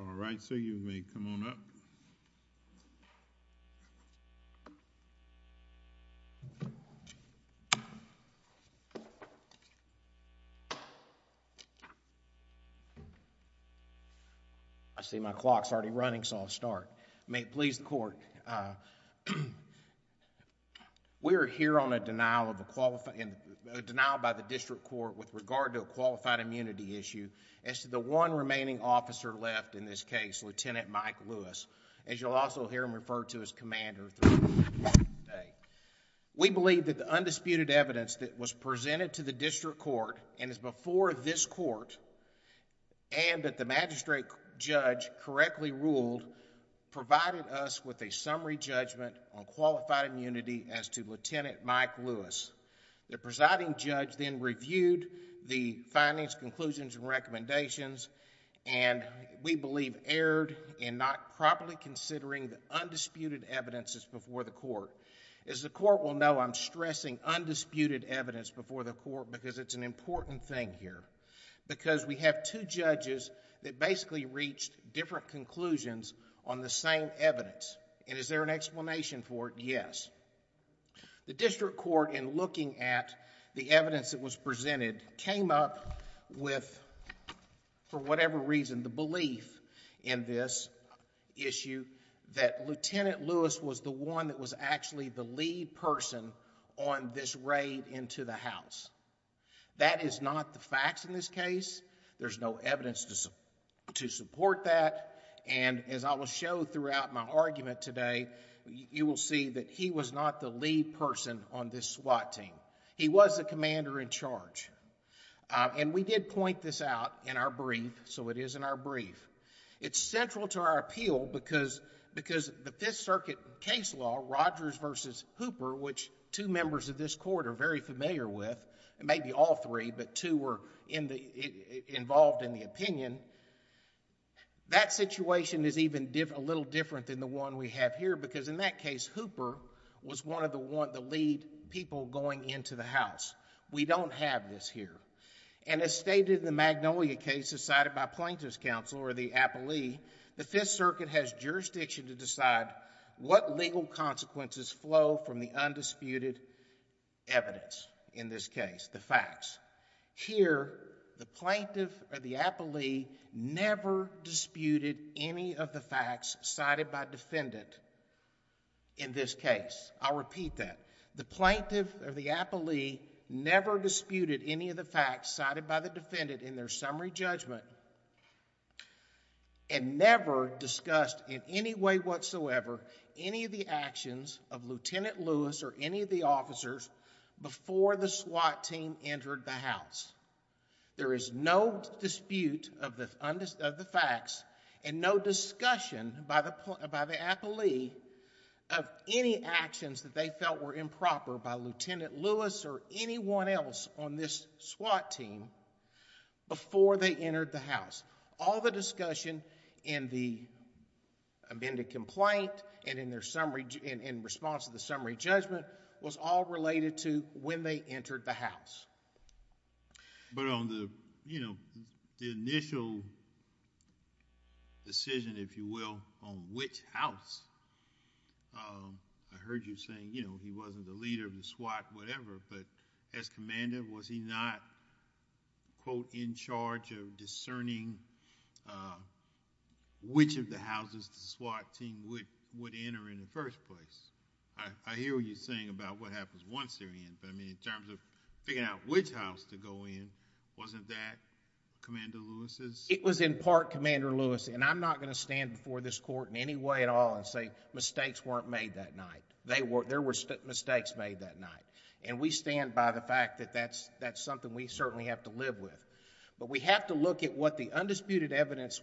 All right, so you may come on up. I see my clock's already running so I'll start. May it please the court, we are here on a denial by the district court with regard to a qualified immunity issue as to the one remaining officer left in this case, Lieutenant Mike Lewis, as you'll also hear him referred to as Commander. We believe that the undisputed evidence that was presented to the district court and is before this court and that the magistrate judge correctly ruled provided us with a summary judgment on qualified immunity as to Lieutenant Mike Lewis. The presiding judge then reviewed the findings, conclusions, and recommendations and we believe he erred in not properly considering the undisputed evidence that's before the court. As the court will know, I'm stressing undisputed evidence before the court because it's an important thing here, because we have two judges that basically reached different conclusions on the same evidence and is there an explanation for it? Yes. The district court in looking at the evidence that was presented came up with, for whatever reason, the belief in this issue that Lieutenant Lewis was the one that was actually the lead person on this raid into the house. That is not the facts in this case. There's no evidence to support that and as I will show throughout my argument today, you will see that he was not the lead person on this SWAT team. He was the commander in charge. We did point this out in our brief, so it is in our brief. It's central to our appeal because the Fifth Circuit case law, Rogers versus Hooper, which two members of this court are very familiar with, maybe all three, but two were involved in the opinion, that situation is even a little different than the one we have here because in that case, Hooper was one of the lead people going into the house. We don't have this here and as stated in the Magnolia case decided by plaintiff's counsel or the appellee, the Fifth Circuit has jurisdiction to decide what legal consequences flow from the undisputed evidence in this case, the facts. Here the plaintiff or the appellee never disputed any of the facts cited by defendant in this case. I'll repeat that. The plaintiff or the appellee never disputed any of the facts cited by the defendant in their summary judgment and never discussed in any way whatsoever any of the actions of Lieutenant Lewis or any of the officers before the SWAT team entered the house. There is no dispute of the facts and no discussion by the appellee of any actions that they felt were improper by Lieutenant Lewis or anyone else on this SWAT team before they entered the house. All the discussion in the amended complaint and in response to the summary judgment was all related to when they entered the house. On the initial decision, if you will, on which house, I heard you saying he wasn't the leader of the SWAT, whatever, but as commander was he not, quote, in charge of discerning which of the houses the SWAT team would enter in the first place? I hear what you're saying about what happens once they're in, but in terms of figuring out which house to go in, wasn't that Commander Lewis's? It was in part Commander Lewis's, and I'm not going to stand before this court in any way at all and say mistakes weren't made that night. There were mistakes made that night, and we stand by the fact that that's something we certainly have to live with, but we have to look at what the undisputed evidence,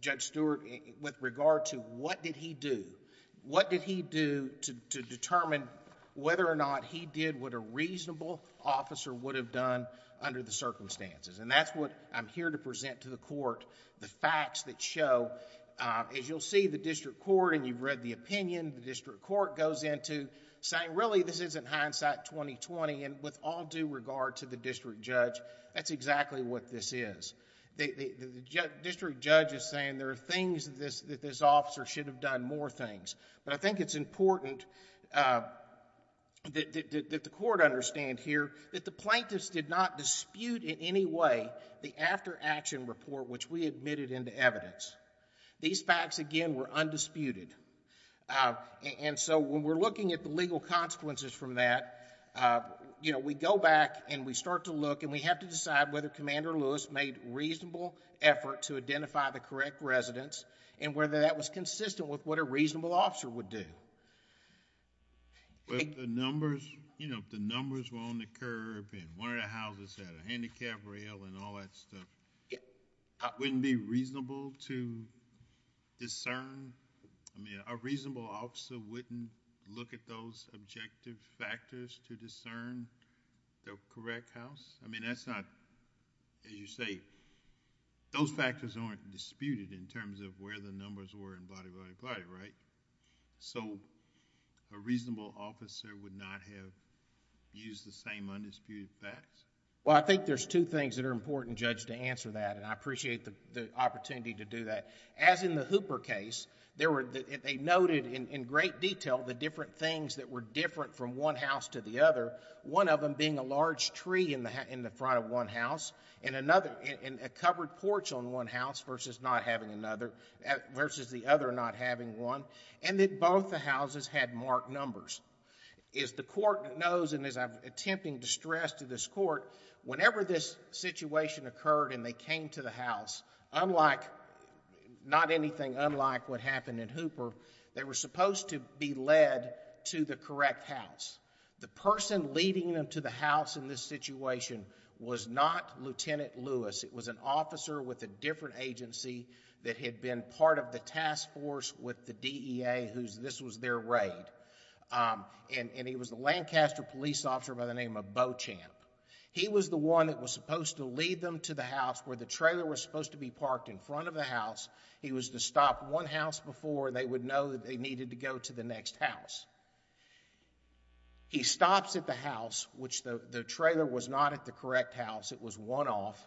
Judge Stewart, with regard to what did he do, what did he do to determine whether or not he did what a reasonable officer would have done under the circumstances, and that's what I'm here to present to the court, the facts that show. As you'll see, the district court, and you've read the opinion, the district court goes into saying, really, this isn't hindsight 2020, and with all due regard to the district judge, that's exactly what this is. The district judge is saying there are things that this officer should have done more things, but I think it's important that the court understand here that the plaintiffs did not dispute in any way the after-action report which we admitted into evidence. These facts, again, were undisputed, and so when we're looking at the legal consequences from that, we go back and we start to look, and we have to decide whether Commander Lewis made a reasonable effort to identify the correct residence and whether that was consistent with what a reasonable officer would do. The numbers, you know, if the numbers were on the curb, and one of the houses had a handicapped rail, and all that stuff, wouldn't it be reasonable to discern? I mean, a reasonable officer wouldn't look at those objective factors to discern the correct house? I mean, that's not... as you say, those factors aren't disputed in terms of where the numbers were, and blah, blah, blah, right? So a reasonable officer would not have used the same undisputed facts? Well, I think there's two things that are important, Judge, to answer that, and I appreciate the opportunity to do that. As in the Hooper case, they noted in great detail the different things that were different from one house to the other, one of them being a large tree in the front of one house, and that versus the other not having one, and that both the houses had marked numbers. As the court knows, and as I'm attempting to stress to this court, whenever this situation occurred and they came to the house, not anything unlike what happened in Hooper, they were supposed to be led to the correct house. The person leading them to the house in this situation was not Lieutenant Lewis, it was an officer with a different agency that had been part of the task force with the DEA, this was their raid, and he was a Lancaster police officer by the name of Beauchamp. He was the one that was supposed to lead them to the house where the trailer was supposed to be parked in front of the house. He was to stop one house before they would know that they needed to go to the next house. He stops at the house, which the trailer was not at the correct house, it was one off.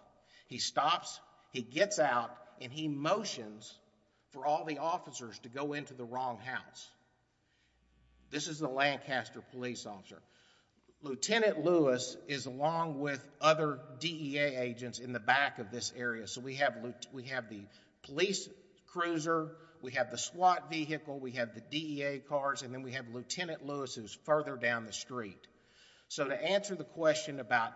He stops, he gets out, and he motions for all the officers to go into the wrong house. This is the Lancaster police officer. Lieutenant Lewis is along with other DEA agents in the back of this area, so we have the police cruiser, we have the SWAT vehicle, we have the DEA cars, and then we have Lieutenant Lewis who's further down the street. So to answer the question about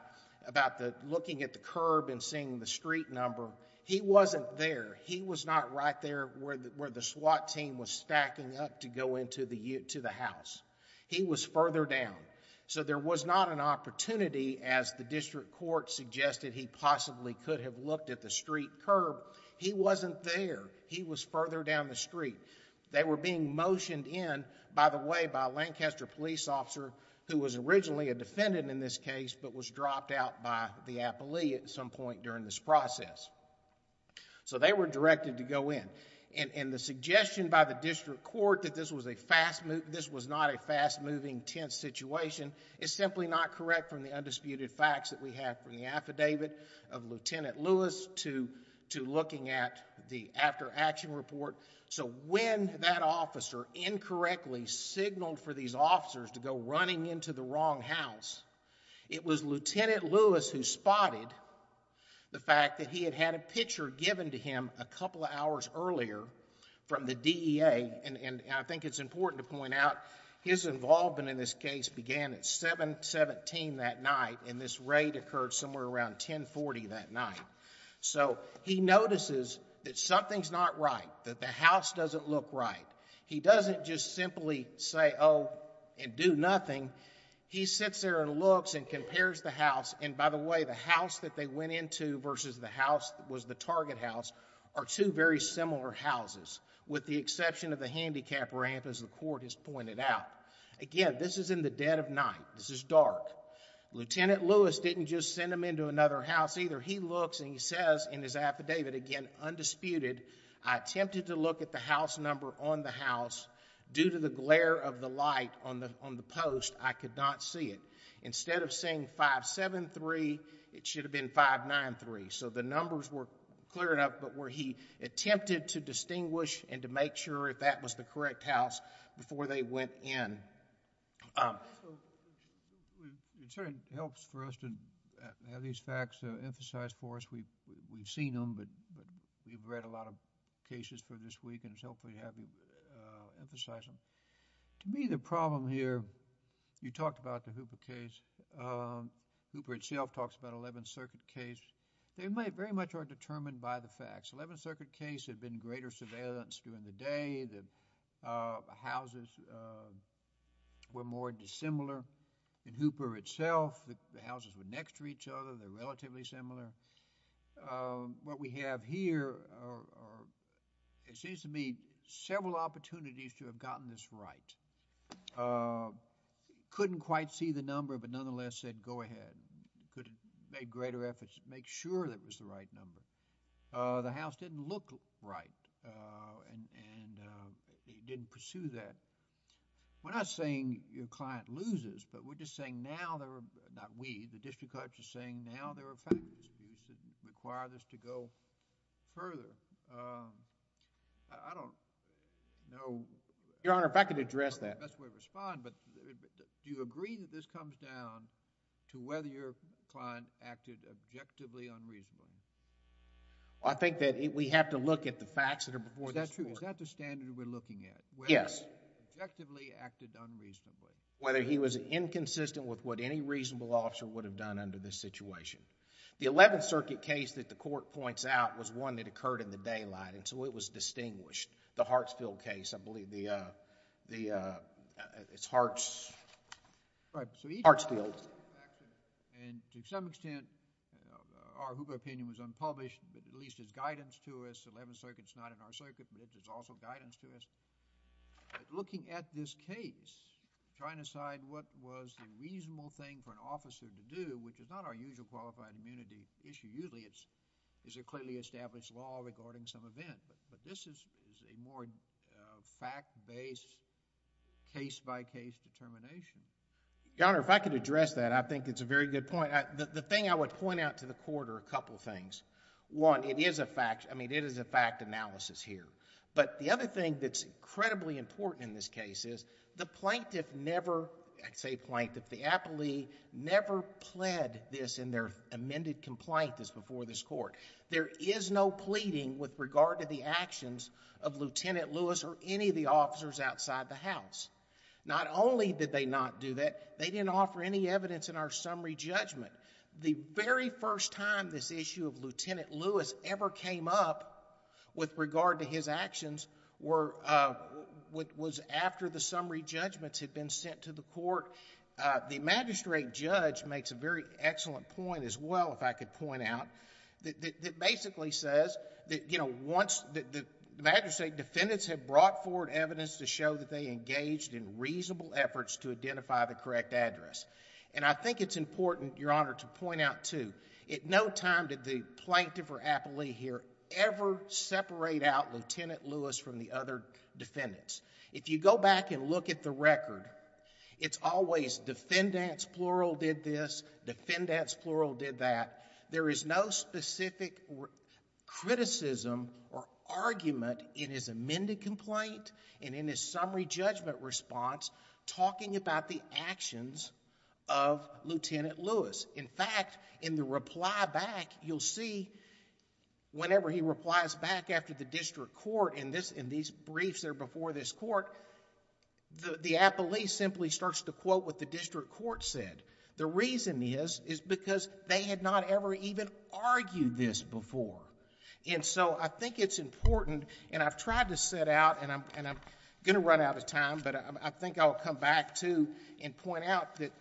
looking at the curb and seeing the street number, he wasn't there. He was not right there where the SWAT team was stacking up to go into the house. He was further down. So there was not an opportunity, as the district court suggested he possibly could have looked at the street curb, he wasn't there. He was further down the street. They were being motioned in, by the way, by a Lancaster police officer who was originally a defendant in this case, but was dropped out by the appellee at some point during this process. So they were directed to go in. The suggestion by the district court that this was not a fast-moving, tense situation is simply not correct from the undisputed facts that we have from the affidavit of Lieutenant Lewis to looking at the after-action report. So when that officer incorrectly signaled for these officers to go running into the wrong house, it was Lieutenant Lewis who spotted the fact that he had had a picture given to him a couple of hours earlier from the DEA, and I think it's important to point out his involvement in this case began at 7-17 that night, and this raid occurred somewhere around 10-40 that night. So he notices that something's not right, that the house doesn't look right. He doesn't just simply say, oh, and do nothing. He sits there and looks and compares the house, and by the way, the house that they went into versus the house that was the target house are two very similar houses, with the exception of the handicap ramp, as the court has pointed out. Again, this is in the dead of night. This is dark. Lieutenant Lewis didn't just send them into another house either. He looks and he says in his affidavit, again, undisputed, I attempted to look at the house number on the house. Due to the glare of the light on the post, I could not see it. Instead of saying 5-7-3, it should have been 5-9-3. So the numbers were clear enough, but where he attempted to distinguish and to make sure if that was the correct house before they went in. It certainly helps for us to have these facts emphasized for us. We've seen them, but we've read a lot of cases for this week, and it's helpful to have you emphasize them. To me, the problem here, you talked about the Hooper case. Hooper itself talks about 11th Circuit case. They very much are determined by the facts. The 11th Circuit case had been greater surveillance during the day, the houses were more dissimilar in Hooper itself, the houses were next to each other, they're relatively similar. What we have here are, it seems to me, several opportunities to have gotten this right. Couldn't quite see the number, but nonetheless said go ahead, could have made greater efforts to make sure that it was the right number. The house didn't look right, and it didn't pursue that. We're not saying your client loses, but we're just saying now there are, not we, the district courts are saying now there are factors that require this to go further. I don't know... Your Honor, if I could address that... That's the best way to respond, but do you agree that this comes down to whether your client acted objectively unreasonably? I think that we have to look at the facts that are before this court. Is that true? Is that the standard we're looking at? Yes. Whether he objectively acted unreasonably? Whether he was inconsistent with what any reasonable officer would have done under this situation. The 11th Circuit case that the court points out was one that occurred in the daylight, and so it was distinguished. The Hartsfield case, I believe, it's Hartsfield. Right. Hartsfield. To some extent, our HOOPA opinion was unpublished, but at least it's guidance to us. The 11th Circuit is not in our circuit, but it's also guidance to us. Looking at this case, trying to decide what was the reasonable thing for an officer to do, which is not our usual qualified immunity issue, usually it's a clearly established law regarding some event, but this is a more fact-based, case-by-case determination. Your Honor, if I could address that, I think it's a very good point. The thing I would point out to the court are a couple of things. One, it is a fact. I mean, it is a fact analysis here, but the other thing that's incredibly important in this case is the plaintiff never... I say plaintiff, the appellee never pled this in their amended complaint that's before this court. There is no pleading with regard to the actions of Lieutenant Lewis or any of the officers outside the house. Not only did they not do that, they didn't offer any evidence in our summary judgment. The very first time this issue of Lieutenant Lewis ever came up with regard to his actions was after the summary judgments had been sent to the court. The magistrate judge makes a very excellent point as well, if I could point out, that basically says that, you know, once the magistrate defendants have brought forward evidence to show that they engaged in reasonable efforts to identify the correct address. I think it's important, Your Honor, to point out too, at no time did the plaintiff or appellee here ever separate out Lieutenant Lewis from the other defendants. If you go back and look at the record, it's always defendants, plural, did this, defendants, plural, did that. There is no specific criticism or argument in his amended complaint and in his summary judgment response talking about the actions of Lieutenant Lewis. In fact, in the reply back, you'll see whenever he replies back after the district court in these briefs that are before this court, the appellee simply starts to quote what the district court said. The reason is, is because they had not ever even argued this before and so I think it's important and I've tried to set out and I'm going to run out of time, but I think I'll come back too and point out that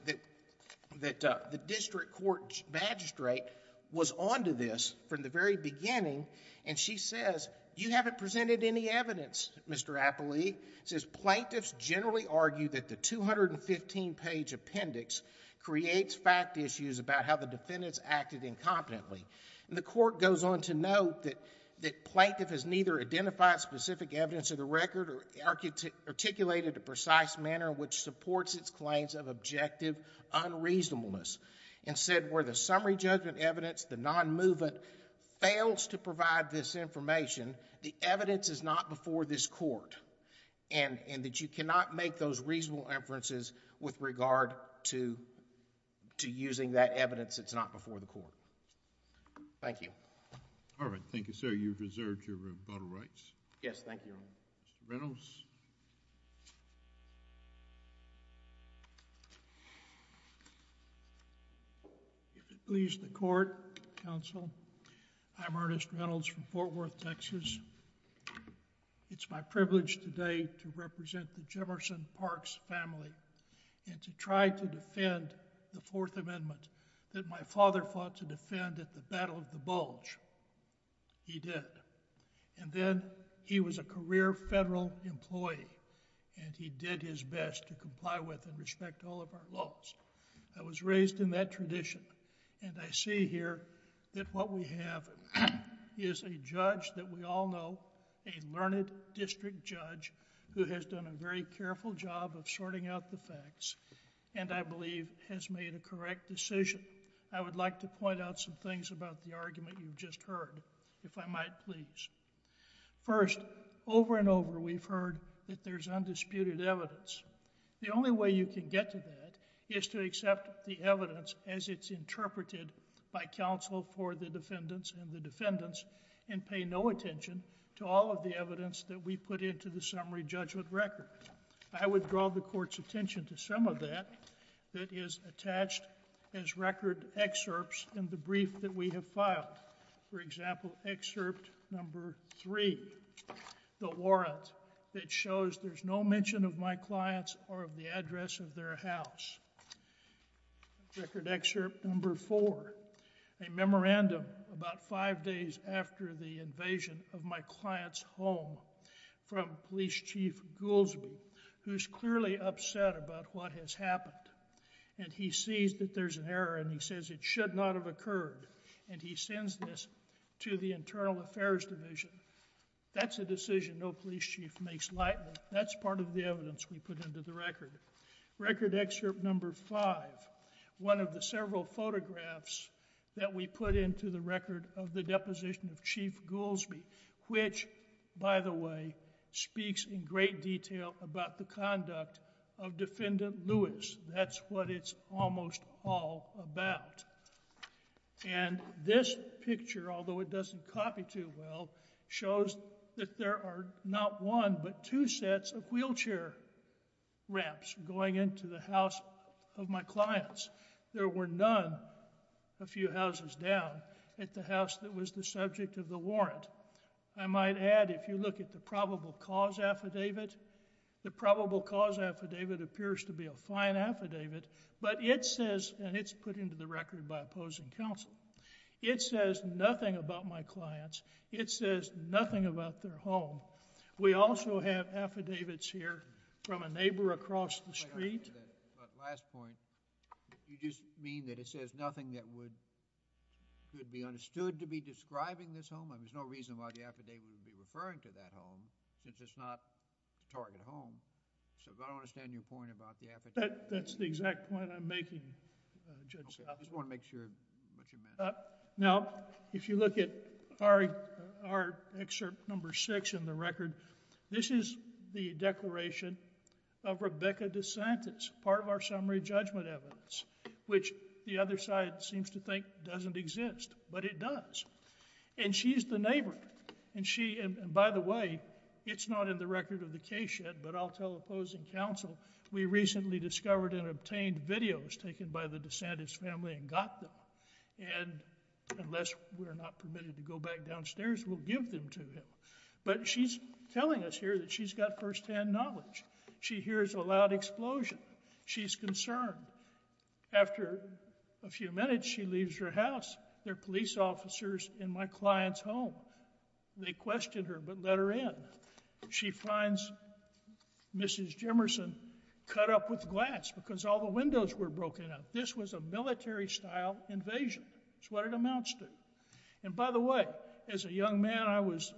the district court magistrate was on to this from the very beginning and she says, you haven't presented any evidence, Mr. Appellee. She says, plaintiffs generally argue that the 215 page appendix creates fact issues about how the defendants acted incompetently. The court goes on to note that the plaintiff has neither identified specific evidence of the record or articulated a precise manner which supports its claims of objective unreasonableness and said where the summary judgment evidence, the non-movement fails to provide this information, the evidence is not before this court and that you cannot make those reasonable inferences with regard to using that evidence that's not before the court. Thank you. All right. Thank you, sir. You've reserved your rebuttal rights. Yes. Thank you, Your Honor. Mr. Reynolds? If it pleases the court, counsel, I'm Ernest Reynolds from Fort Worth, Texas. It's my privilege today to represent the Jefferson Parks family and to try to defend the Fourth Amendment that my father fought to defend at the Battle of the Bulge. He did and then he was a career federal employee and he did his best to comply with and respect all of our laws. I was raised in that tradition and I see here that what we have is a judge that we all know, a learned district judge who has done a very careful job of sorting out the facts and I believe has made a correct decision. I would like to point out some things about the argument you've just heard, if I might please. First, over and over we've heard that there's undisputed evidence. The only way you can get to that is to accept the evidence as it's interpreted by counsel for the defendants and the defendants and pay no attention to all of the evidence that we put into the summary judgment record. I would draw the court's attention to some of that that is attached as record excerpts in the brief that we have filed. For example, excerpt number three, the warrant that shows there's no mention of my clients or of the address of their house. Record excerpt number four, a memorandum about five days after the invasion of my client's home from Police Chief Goolsbee who's clearly upset about what has happened and he sees that there's an error and he says it should not have occurred and he sends this to the Internal Affairs Division. That's a decision no police chief makes lightly. That's part of the evidence we put into the record. Record excerpt number five, one of the several photographs that we put into the record of the deposition of Chief Goolsbee which, by the way, speaks in great detail about the conduct of Defendant Lewis. That's what it's almost all about. And this picture, although it doesn't copy too well, shows that there are not one but two sets of wheelchair ramps going into the house of my clients. There were none a few houses down at the house that was the subject of the warrant. I might add if you look at the probable cause affidavit, the probable cause affidavit appears to be a fine affidavit but it says, and it's put into the record by opposing counsel, it says nothing about my clients. It says nothing about their home. We also have affidavits here from a neighbor across the street... But last point, you just mean that it says nothing that would be understood to be describing this home? There's no reason why the affidavit would be referring to that home since it's not a target home. So if I don't understand your point about the affidavit... That's the exact point I'm making, Judge Smith. Okay. I just want to make sure what you meant. Now, if you look at our excerpt number six in the record, this is the declaration of Rebecca DeSantis, part of our summary judgment evidence, which the other side seems to think doesn't exist, but it does. And she's the neighbor, and she... and by the way, it's not in the record of the case yet, but I'll tell opposing counsel, we recently discovered and obtained videos taken by the DeSantis family and got them. And unless we're not permitted to go back downstairs, we'll give them to him. But she's telling us here that she's got firsthand knowledge. She hears a loud explosion. She's concerned. After a few minutes, she leaves her house. There are police officers in my client's home. They question her, but let her in. She finds Mrs. Jemerson cut up with glass because all the windows were broken up. This was a military-style invasion. That's what it amounts to. And by the way, as a young man, I was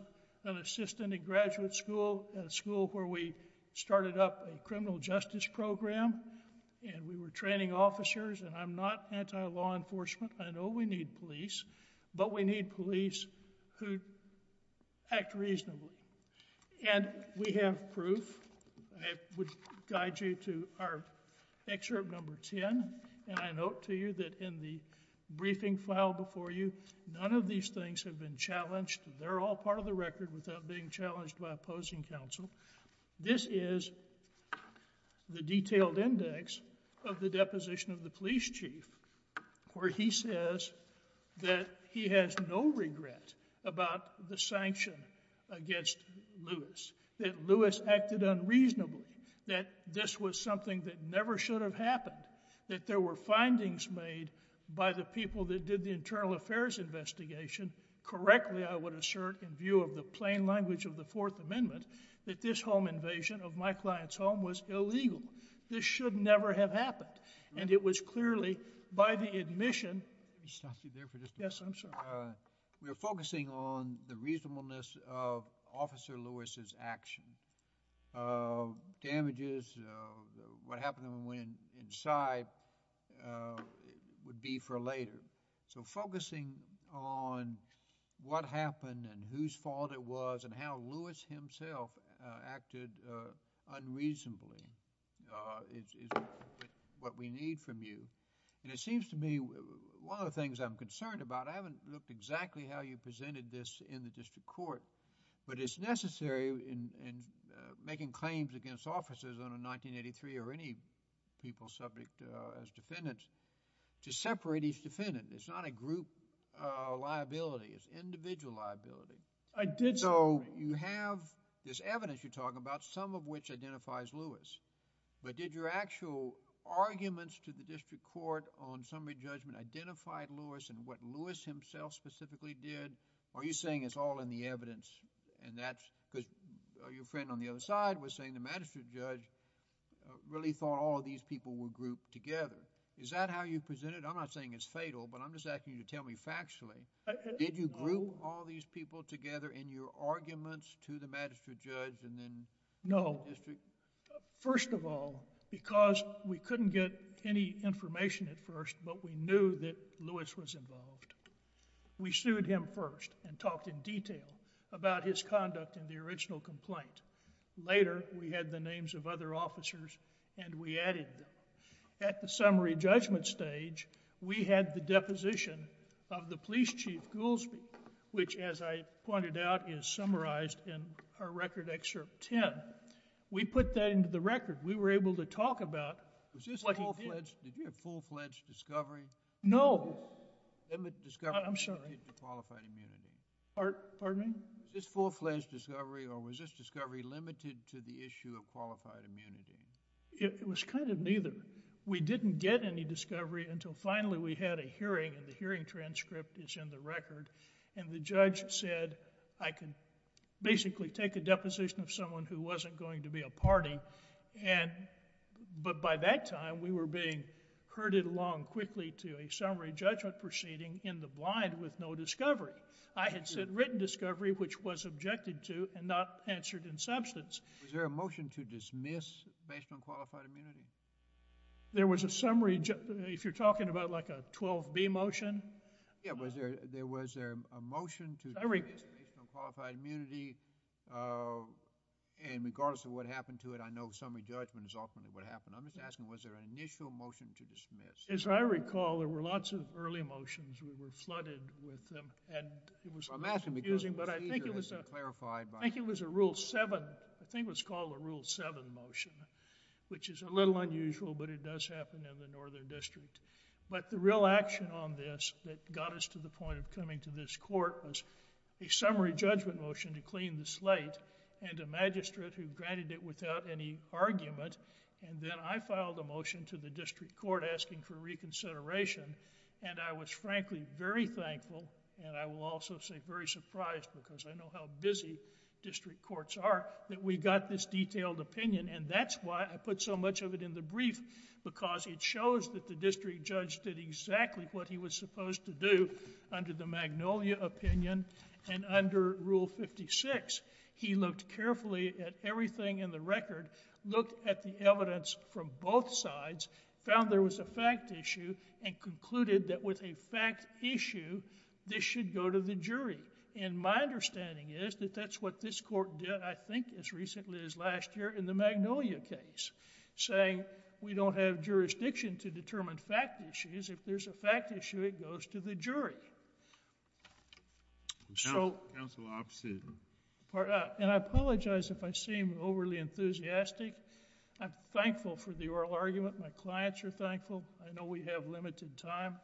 an assistant at graduate school, a school where we started up a criminal justice program, and we were training officers, and I'm not anti-law enforcement. I know we need police, but we need police who act reasonably. And we have proof. I would guide you to our excerpt number 10, and I note to you that in the briefing file before you, none of these things have been challenged. They're all part of the record without being challenged by opposing counsel. This is the detailed index of the deposition of the police chief, where he says that he has no regret about the sanction against Lewis, that Lewis acted unreasonably, that this was something that never should have happened, that there were findings made by the people that did the internal affairs investigation, correctly I would assert in view of the plain language of the Fourth Amendment, that this home invasion of my client's home was illegal. This should never have happened. And it was clearly by the admission... Let me stop you there for just a minute. Yes, I'm sorry. We are focusing on the reasonableness of Officer Lewis's action. Damages, what happened when he went inside, would be for later. So focusing on what happened and whose fault it was and how Lewis himself acted unreasonably is what we need from you. And it seems to me, one of the things I'm concerned about, I haven't looked exactly how you presented this in the district court, but it's necessary in making claims against officers under 1983 or any people subject as defendants to separate each defendant. It's not a group liability, it's individual liability. So you have this evidence you're talking about, some of which identifies Lewis, but did your actual arguments to the district court on summary judgment identify Lewis and what Lewis himself specifically did? Are you saying it's all in the evidence and that's because your friend on the other side was saying the magistrate judge really thought all of these people were grouped together. Is that how you presented it? I'm not saying it's fatal, but I'm just asking you to tell me factually, did you group all these people together in your arguments to the magistrate judge and then... No.... the district? First of all, because we couldn't get any information at first, but we knew that Lewis was involved. We sued him first and talked in detail about his conduct in the original complaint. Later, we had the names of other officers and we added them. At the summary judgment stage, we had the deposition of the police chief, Goolsbee, which as I pointed out is summarized in our record excerpt 10. We put that into the record. We were able to talk about... Was this a full-fledged, did you have full-fledged discovery? No. I'm sorry.... qualified immunity. Pardon me? Was this full-fledged discovery or was this discovery limited to the issue of qualified immunity? It was kind of neither. We didn't get any discovery until finally we had a hearing and the hearing transcript is in the record and the judge said, I can basically take a deposition of someone who wasn't going to be a party, but by that time, we were being herded along quickly to a summary judgment proceeding in the blind with no discovery. I had said written discovery, which was objected to and not answered in substance. Was there a motion to dismiss based on qualified immunity? There was a summary... if you're talking about like a 12B motion. Yeah. Was there a motion to dismiss based on qualified immunity? And regardless of what happened to it, I know summary judgment is often what happened. I'm just asking, was there an initial motion to dismiss? As I recall, there were lots of early motions. We were flooded with them and it was confusing, but I think it was a... I'm asking because the procedure has been clarified by... I think it was a Rule 7, I think it was called a Rule 7 motion, which is a little unusual but it does happen in the Northern District. But the real action on this that got us to the point of coming to this court was a summary judgment motion to clean the slate and a magistrate who granted it without any argument and then I filed a motion to the district court asking for reconsideration and I was frankly very thankful and I will also say very surprised because I know how busy district courts are that we got this detailed opinion and that's why I put so much of it in the brief because it shows that the district judge did exactly what he was supposed to do under the Magnolia opinion and under Rule 56. He looked carefully at everything in the record, looked at the evidence from both sides, found there was a fact issue and concluded that with a fact issue, this should go to the jury and my understanding is that that's what this court did, I think, as recently as last year in the Magnolia case, saying we don't have jurisdiction to determine fact issues. If there's a fact issue, it goes to the jury. So... Counsel, I'm... Pardon? And I apologize if I seem overly enthusiastic. I'm thankful for the oral argument. My clients are thankful. I know we have limited time.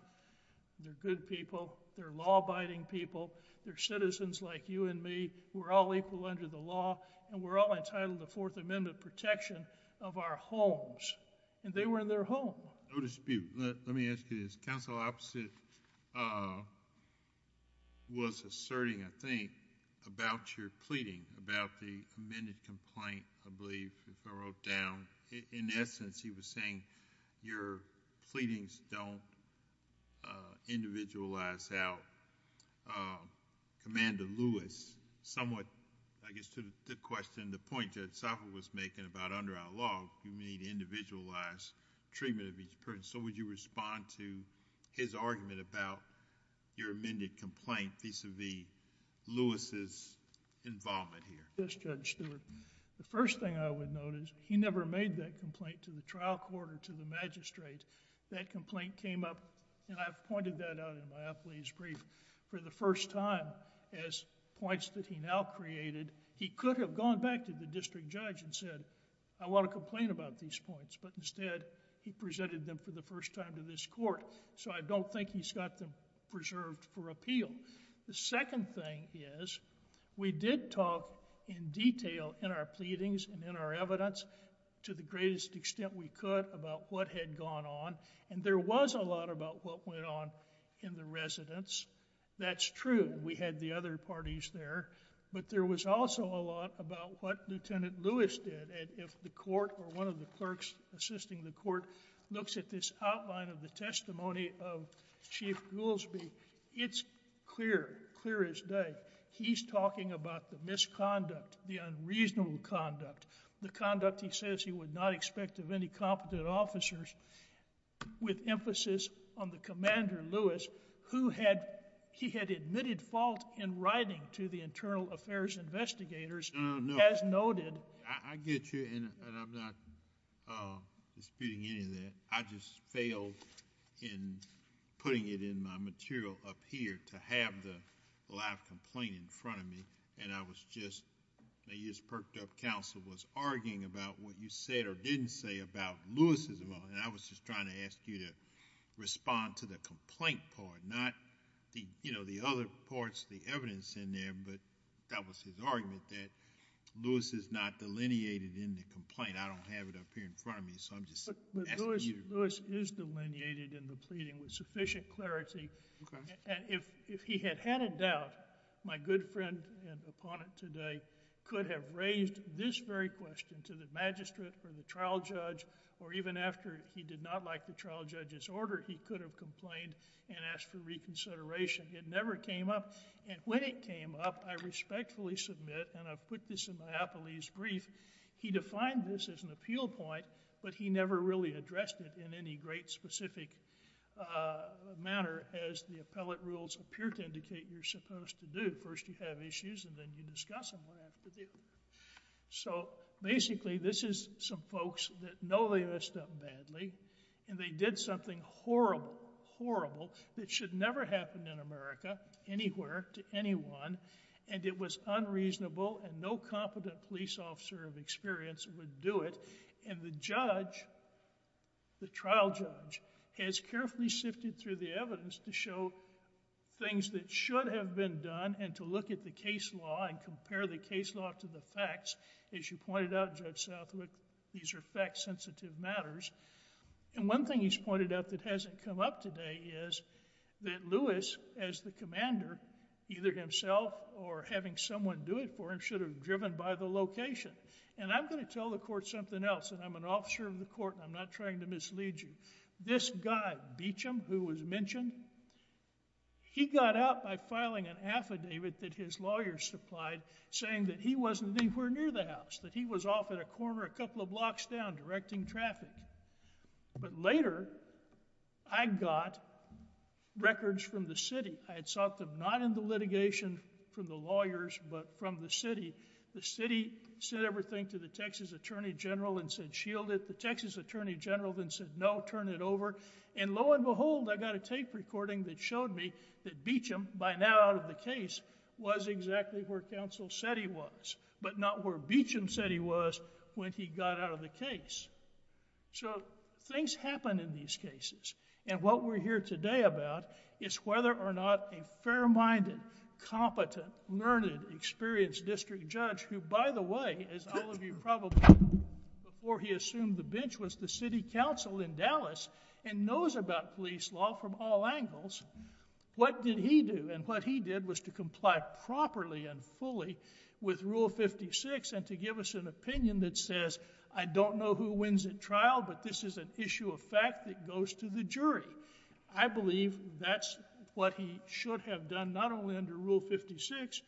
They're good people. They're law-abiding people. They're citizens like you and me. We're all equal under the law and we're all entitled to Fourth Amendment protection of our homes and they were in their home. No dispute. Let me ask you this. Counsel Opposite was asserting, I think, about your pleading about the amended complaint, I believe, if I wrote down. In essence, he was saying your pleadings don't individualize how Commander Lewis somewhat, I guess, to the question, the point Judge Sopher was making about under our law, you need to individualize treatment of each person. So would you respond to his argument about your amended complaint vis-à-vis Lewis' involvement here? Yes, Judge Stewart. The first thing I would note is he never made that complaint to the trial court or to the magistrate. That complaint came up and I've pointed that out in my appellee's brief. For the first time as points that he now created, he could have gone back to the district judge and said, I want to complain about these points, but instead he presented them for the first time to this court. So I don't think he's got them preserved for appeal. The second thing is, we did talk in detail in our pleadings and in our evidence to the greatest extent we could about what had gone on, and there was a lot about what went on in the residence. That's true. We had the other parties there, but there was also a lot about what Lieutenant Lewis did. If the court or one of the clerks assisting the court looks at this clear, clear as day, he's talking about the misconduct, the unreasonable conduct, the conduct he says he would not expect of any competent officers with emphasis on the Commander Lewis, who he had admitted fault in writing to the internal affairs investigators as noted... I get you, and I'm not disputing any of that. I just failed in putting it in my material up here to have the live complaint in front of me, and I was just... I just perked up counsel was arguing about what you said or didn't say about Lewis's... I was just trying to ask you to respond to the complaint part, not the other parts of the evidence in there, but that was his argument that Lewis is not delineated in the complaint. I don't have it up here in front of me, so I'm just asking you... But Lewis is delineated in the pleading with sufficient clarity. Okay. If he had had a doubt, my good friend and opponent today could have raised this very question to the magistrate or the trial judge, or even after he did not like the trial judge's order, he could have complained and asked for reconsideration. It never came up, and when it came up, I respectfully submit, and I put this in my appellee's brief, he defined this as an appeal point, but he never really addressed it in any great specific manner as the appellate rules appear to indicate you're supposed to do. First you have issues, and then you discuss them. So basically, this is some folks that know they messed up badly, and they did something horrible, horrible, that should never happen in America, anywhere, to anyone, and it was unreasonable, and no competent police officer of experience would do it, and the judge, the trial judge, has carefully sifted through the evidence to show things that should have been done, and to look at the case law, and compare the case law to the facts. As you pointed out, Judge Southwick, these are fact-sensitive matters, and one thing he's pointed out that hasn't come up today is that Lewis, as the commander, either himself or having someone do it for him, should have driven by the location, and I'm going to tell the court something else, and I'm an officer of the court, and I'm not trying to mislead you. This guy, Beecham, who was mentioned, he got out by filing an affidavit that his lawyer supplied saying that he wasn't anywhere near the house, that he was off at a corner a couple of blocks down directing traffic, but later, I got records from the city. I had sought them not in the litigation from the lawyers, but from the city. The city said everything to the Texas Attorney General and said, shield it. The Texas Attorney General then said, no, turn it over, and lo and behold, I got a tape recording that showed me that Beecham, by now out of the case, was exactly where counsel said he was, but not where Beecham said he was when he got out of the case. So, things happen in these cases, and what we're here today about is whether or not a fair-minded, competent, learned, experienced district judge who, by the way, as all of you probably know, before he assumed the bench, was the city counsel in Dallas and knows about police law from all angles, what did he do? What he did was to comply properly and fully with Rule 56 and to give us an opinion that says, I don't know who wins at trial, but this is an issue of fact that goes to the jury. I believe that's what he should have done, not only under Rule 56,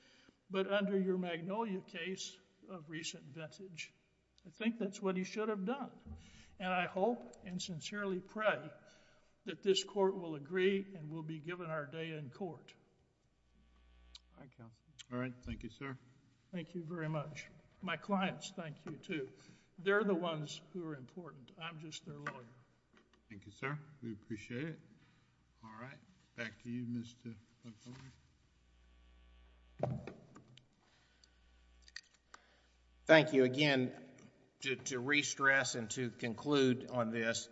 but under your Magnolia case of recent vintage. I think that's what he should have done, and I hope and sincerely pray that this court will agree and we'll be given our day in court. All right. Thank you, sir. Thank you very much. My clients, thank you, too. They're the ones who are important. I'm just their lawyer. Thank you, sir. We appreciate it. All right. Back to you, Mr. Montgomery. Thank you. Again, to re-stress and to conclude on this,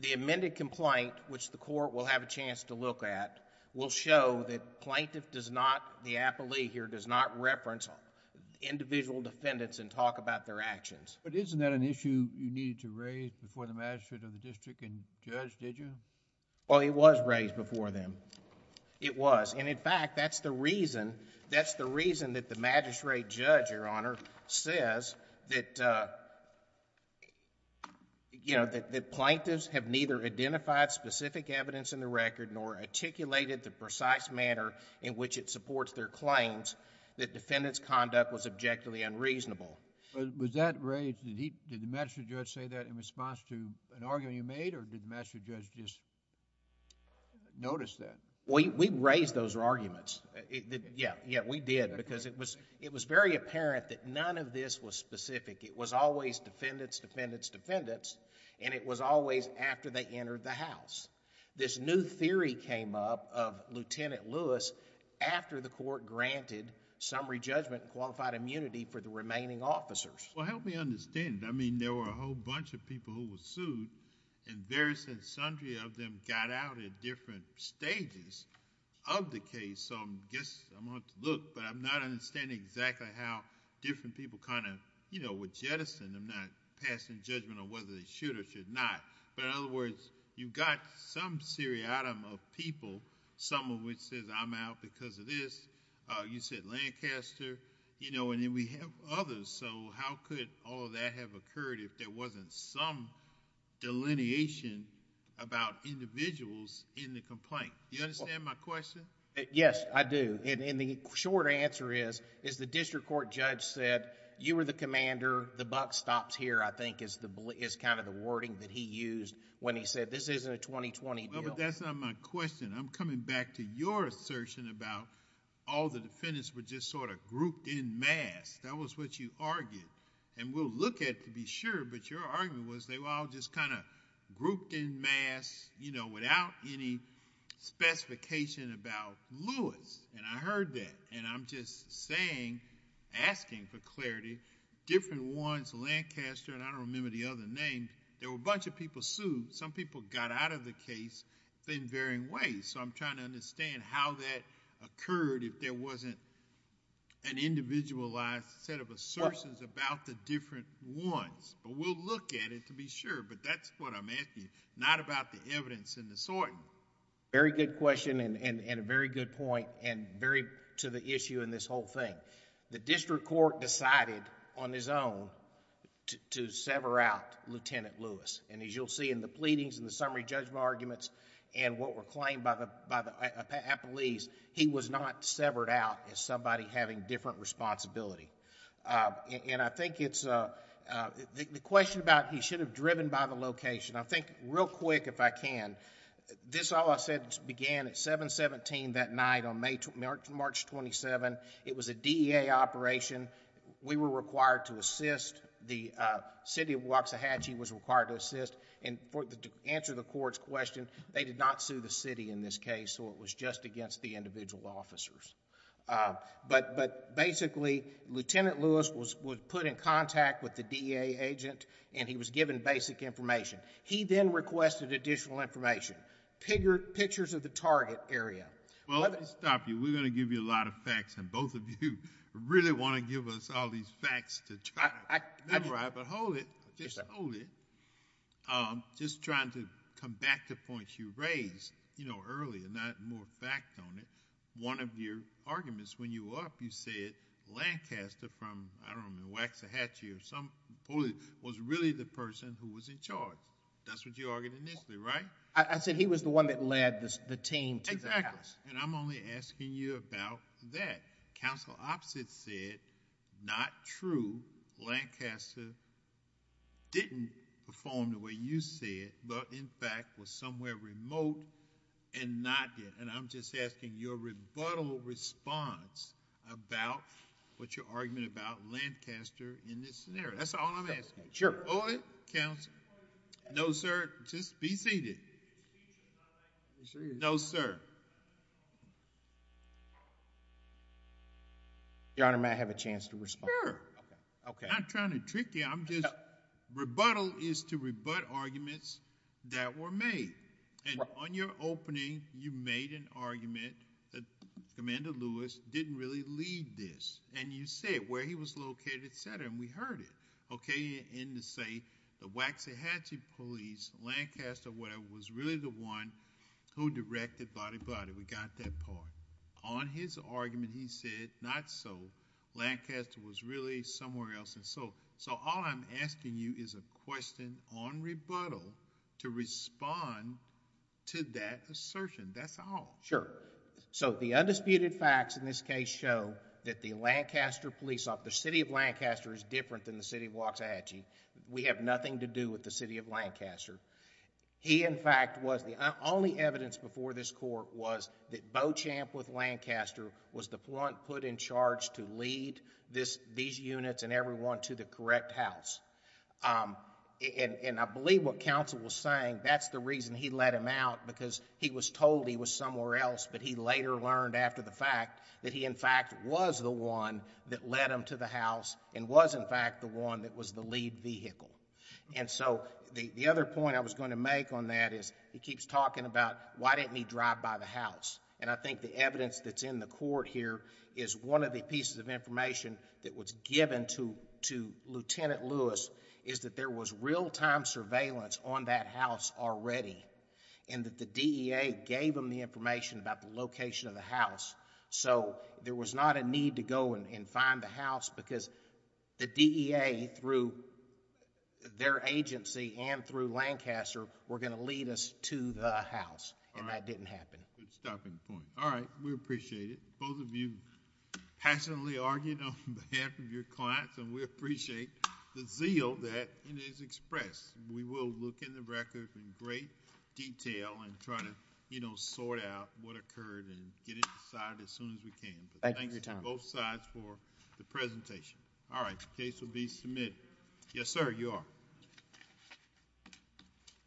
the amended complaint, which the court will have a chance to look at, will show that plaintiff does not, the appellee here, does not reference individual defendants and talk about their actions. Isn't that an issue you needed to raise before the magistrate of the court? Did you? Well, it was raised before them. It was, and in fact, that's the reason that the magistrate judge, Your Honor, says that plaintiffs have neither identified specific evidence in the record nor articulated the precise manner in which it supports their claims that defendant's conduct was objectively unreasonable. Was that raised... did the magistrate judge say that in response to an appellee who has just noticed that? We raised those arguments. Yeah, we did because it was very apparent that none of this was specific. It was always defendants, defendants, defendants, and it was always after they entered the house. This new theory came up of Lieutenant Lewis after the court granted summary judgment and qualified immunity for the remaining officers. Well, help me understand. I mean, there were a whole bunch of people who were sued and various and sundry of them got out at different stages of the case. I guess I'm going to have to look, but I'm not understanding exactly how different people kind of were jettisoned. I'm not passing judgment on whether they should or should not. In other words, you've got some seriatim of people, some of which says, I'm out because of this. You said Lancaster, and then we have others. How could all of that have occurred if there wasn't some delineation about individuals in the complaint? Do you understand my question? Yes, I do. The short answer is the district court judge said, you were the commander, the buck stops here, I think is kind of the wording that he used when he said, this isn't a 2020 deal. That's not my question. I'm coming back to your assertion about all the defendants were just sort of grouped in mass. That was what you argued. We'll look at it to be sure, but your argument was they were all just kind of grouped in mass without any specification about Lewis. I heard that. I'm just saying, asking for clarity. Different ones, Lancaster, and I don't remember the other name, there were a bunch of people sued. Some people got out of the case in varying ways. I'm trying to understand how that occurred if there wasn't an individualized set of assertions about the different ones. We'll look at it to be sure, but that's what I'm asking you, not about the evidence in the sorting. Very good question and a very good point, and very to the issue in this whole thing. The district court decided on his own to sever out Lieutenant Lewis. As you'll see in the pleadings and the summary judgment arguments and what were claimed by the appellees, he was not severed out as somebody having different responsibility. The question about he should have driven by the location, I think real quick if I can, this all I said began at 7-17 that night on March 27th. It was a DEA operation. We were required to assist. The city of Waxahachie was required to assist. To answer the court's question, they did not sue the city in this case, so it was just against the individual officers. Basically, Lieutenant Lewis was put in contact with the DEA agent and he was given basic information. He then requested additional information, pictures of the target area. Well, let me stop you. We're going to give you a lot of facts, and both of you really want to give us all these facts to try to memorize, but hold it, just hold it. Just trying to come back to points you raised earlier, not more fact on it. One of your arguments when you were up, you said Lancaster from, I don't know, Waxahachie or some place, was really the person who was in charge. That's what you argued initially, right? I said he was the one that led the team to the house. Exactly, and I'm only asking you about that. Counsel Opposite said, not true, Lancaster didn't perform the way you said, but in fact was somewhere remote and not there. And I'm just asking your rebuttal response about what's your argument about Lancaster in this scenario. That's all I'm asking. Sure. Hold it, counsel. No, sir. Just be seated. No, sir. Your Honor, may I have a chance to respond? Sure. I'm not trying to trick you, I'm just, rebuttal is to rebut arguments that were made. And on your opening, you made an argument that Commander Lewis didn't really lead this. And you said where he was located, et cetera, and we heard it. Okay, and to say the Waxahachie Police, Lancaster, whatever, was really the one who directed body, body. We got that part. On his argument, he said, not so. Lancaster was really somewhere else. And so all I'm asking you is a question on rebuttal to respond to that assertion. That's all. Sure. So the undisputed facts in this case show that the Lancaster police, the city of Lancaster is different than the city of Waxahachie. We have nothing to do with the city of Lancaster. He, in fact, was the only evidence before this court was that Beauchamp with Lancaster was the one put in charge to lead these units and everyone to the correct house. And I believe what counsel was saying, that's the reason he let him out because he was told he was somewhere else, but he later learned after the fact that he, in fact, was the one that led him to the house and was, in fact, the one that was the lead vehicle. And so the other point I was going to make on that is he keeps talking about, why didn't he drive by the house? And I think the evidence that's in the court here is one of the pieces of information that was given to Lieutenant Lewis is that there was real-time surveillance on that house already So there was not a need to go and find the house because the DEA, through their agency and through Lancaster, were going to lead us to the house, and that didn't happen. Good stopping point. All right, we appreciate it. Both of you passionately argued on behalf of your clients, and we appreciate the zeal that is expressed. We will look in the record in great detail and try to sort out what occurred and get it decided as soon as we can. Thanks to both sides for the presentation. All right, the case will be submitted. Yes, sir, you are.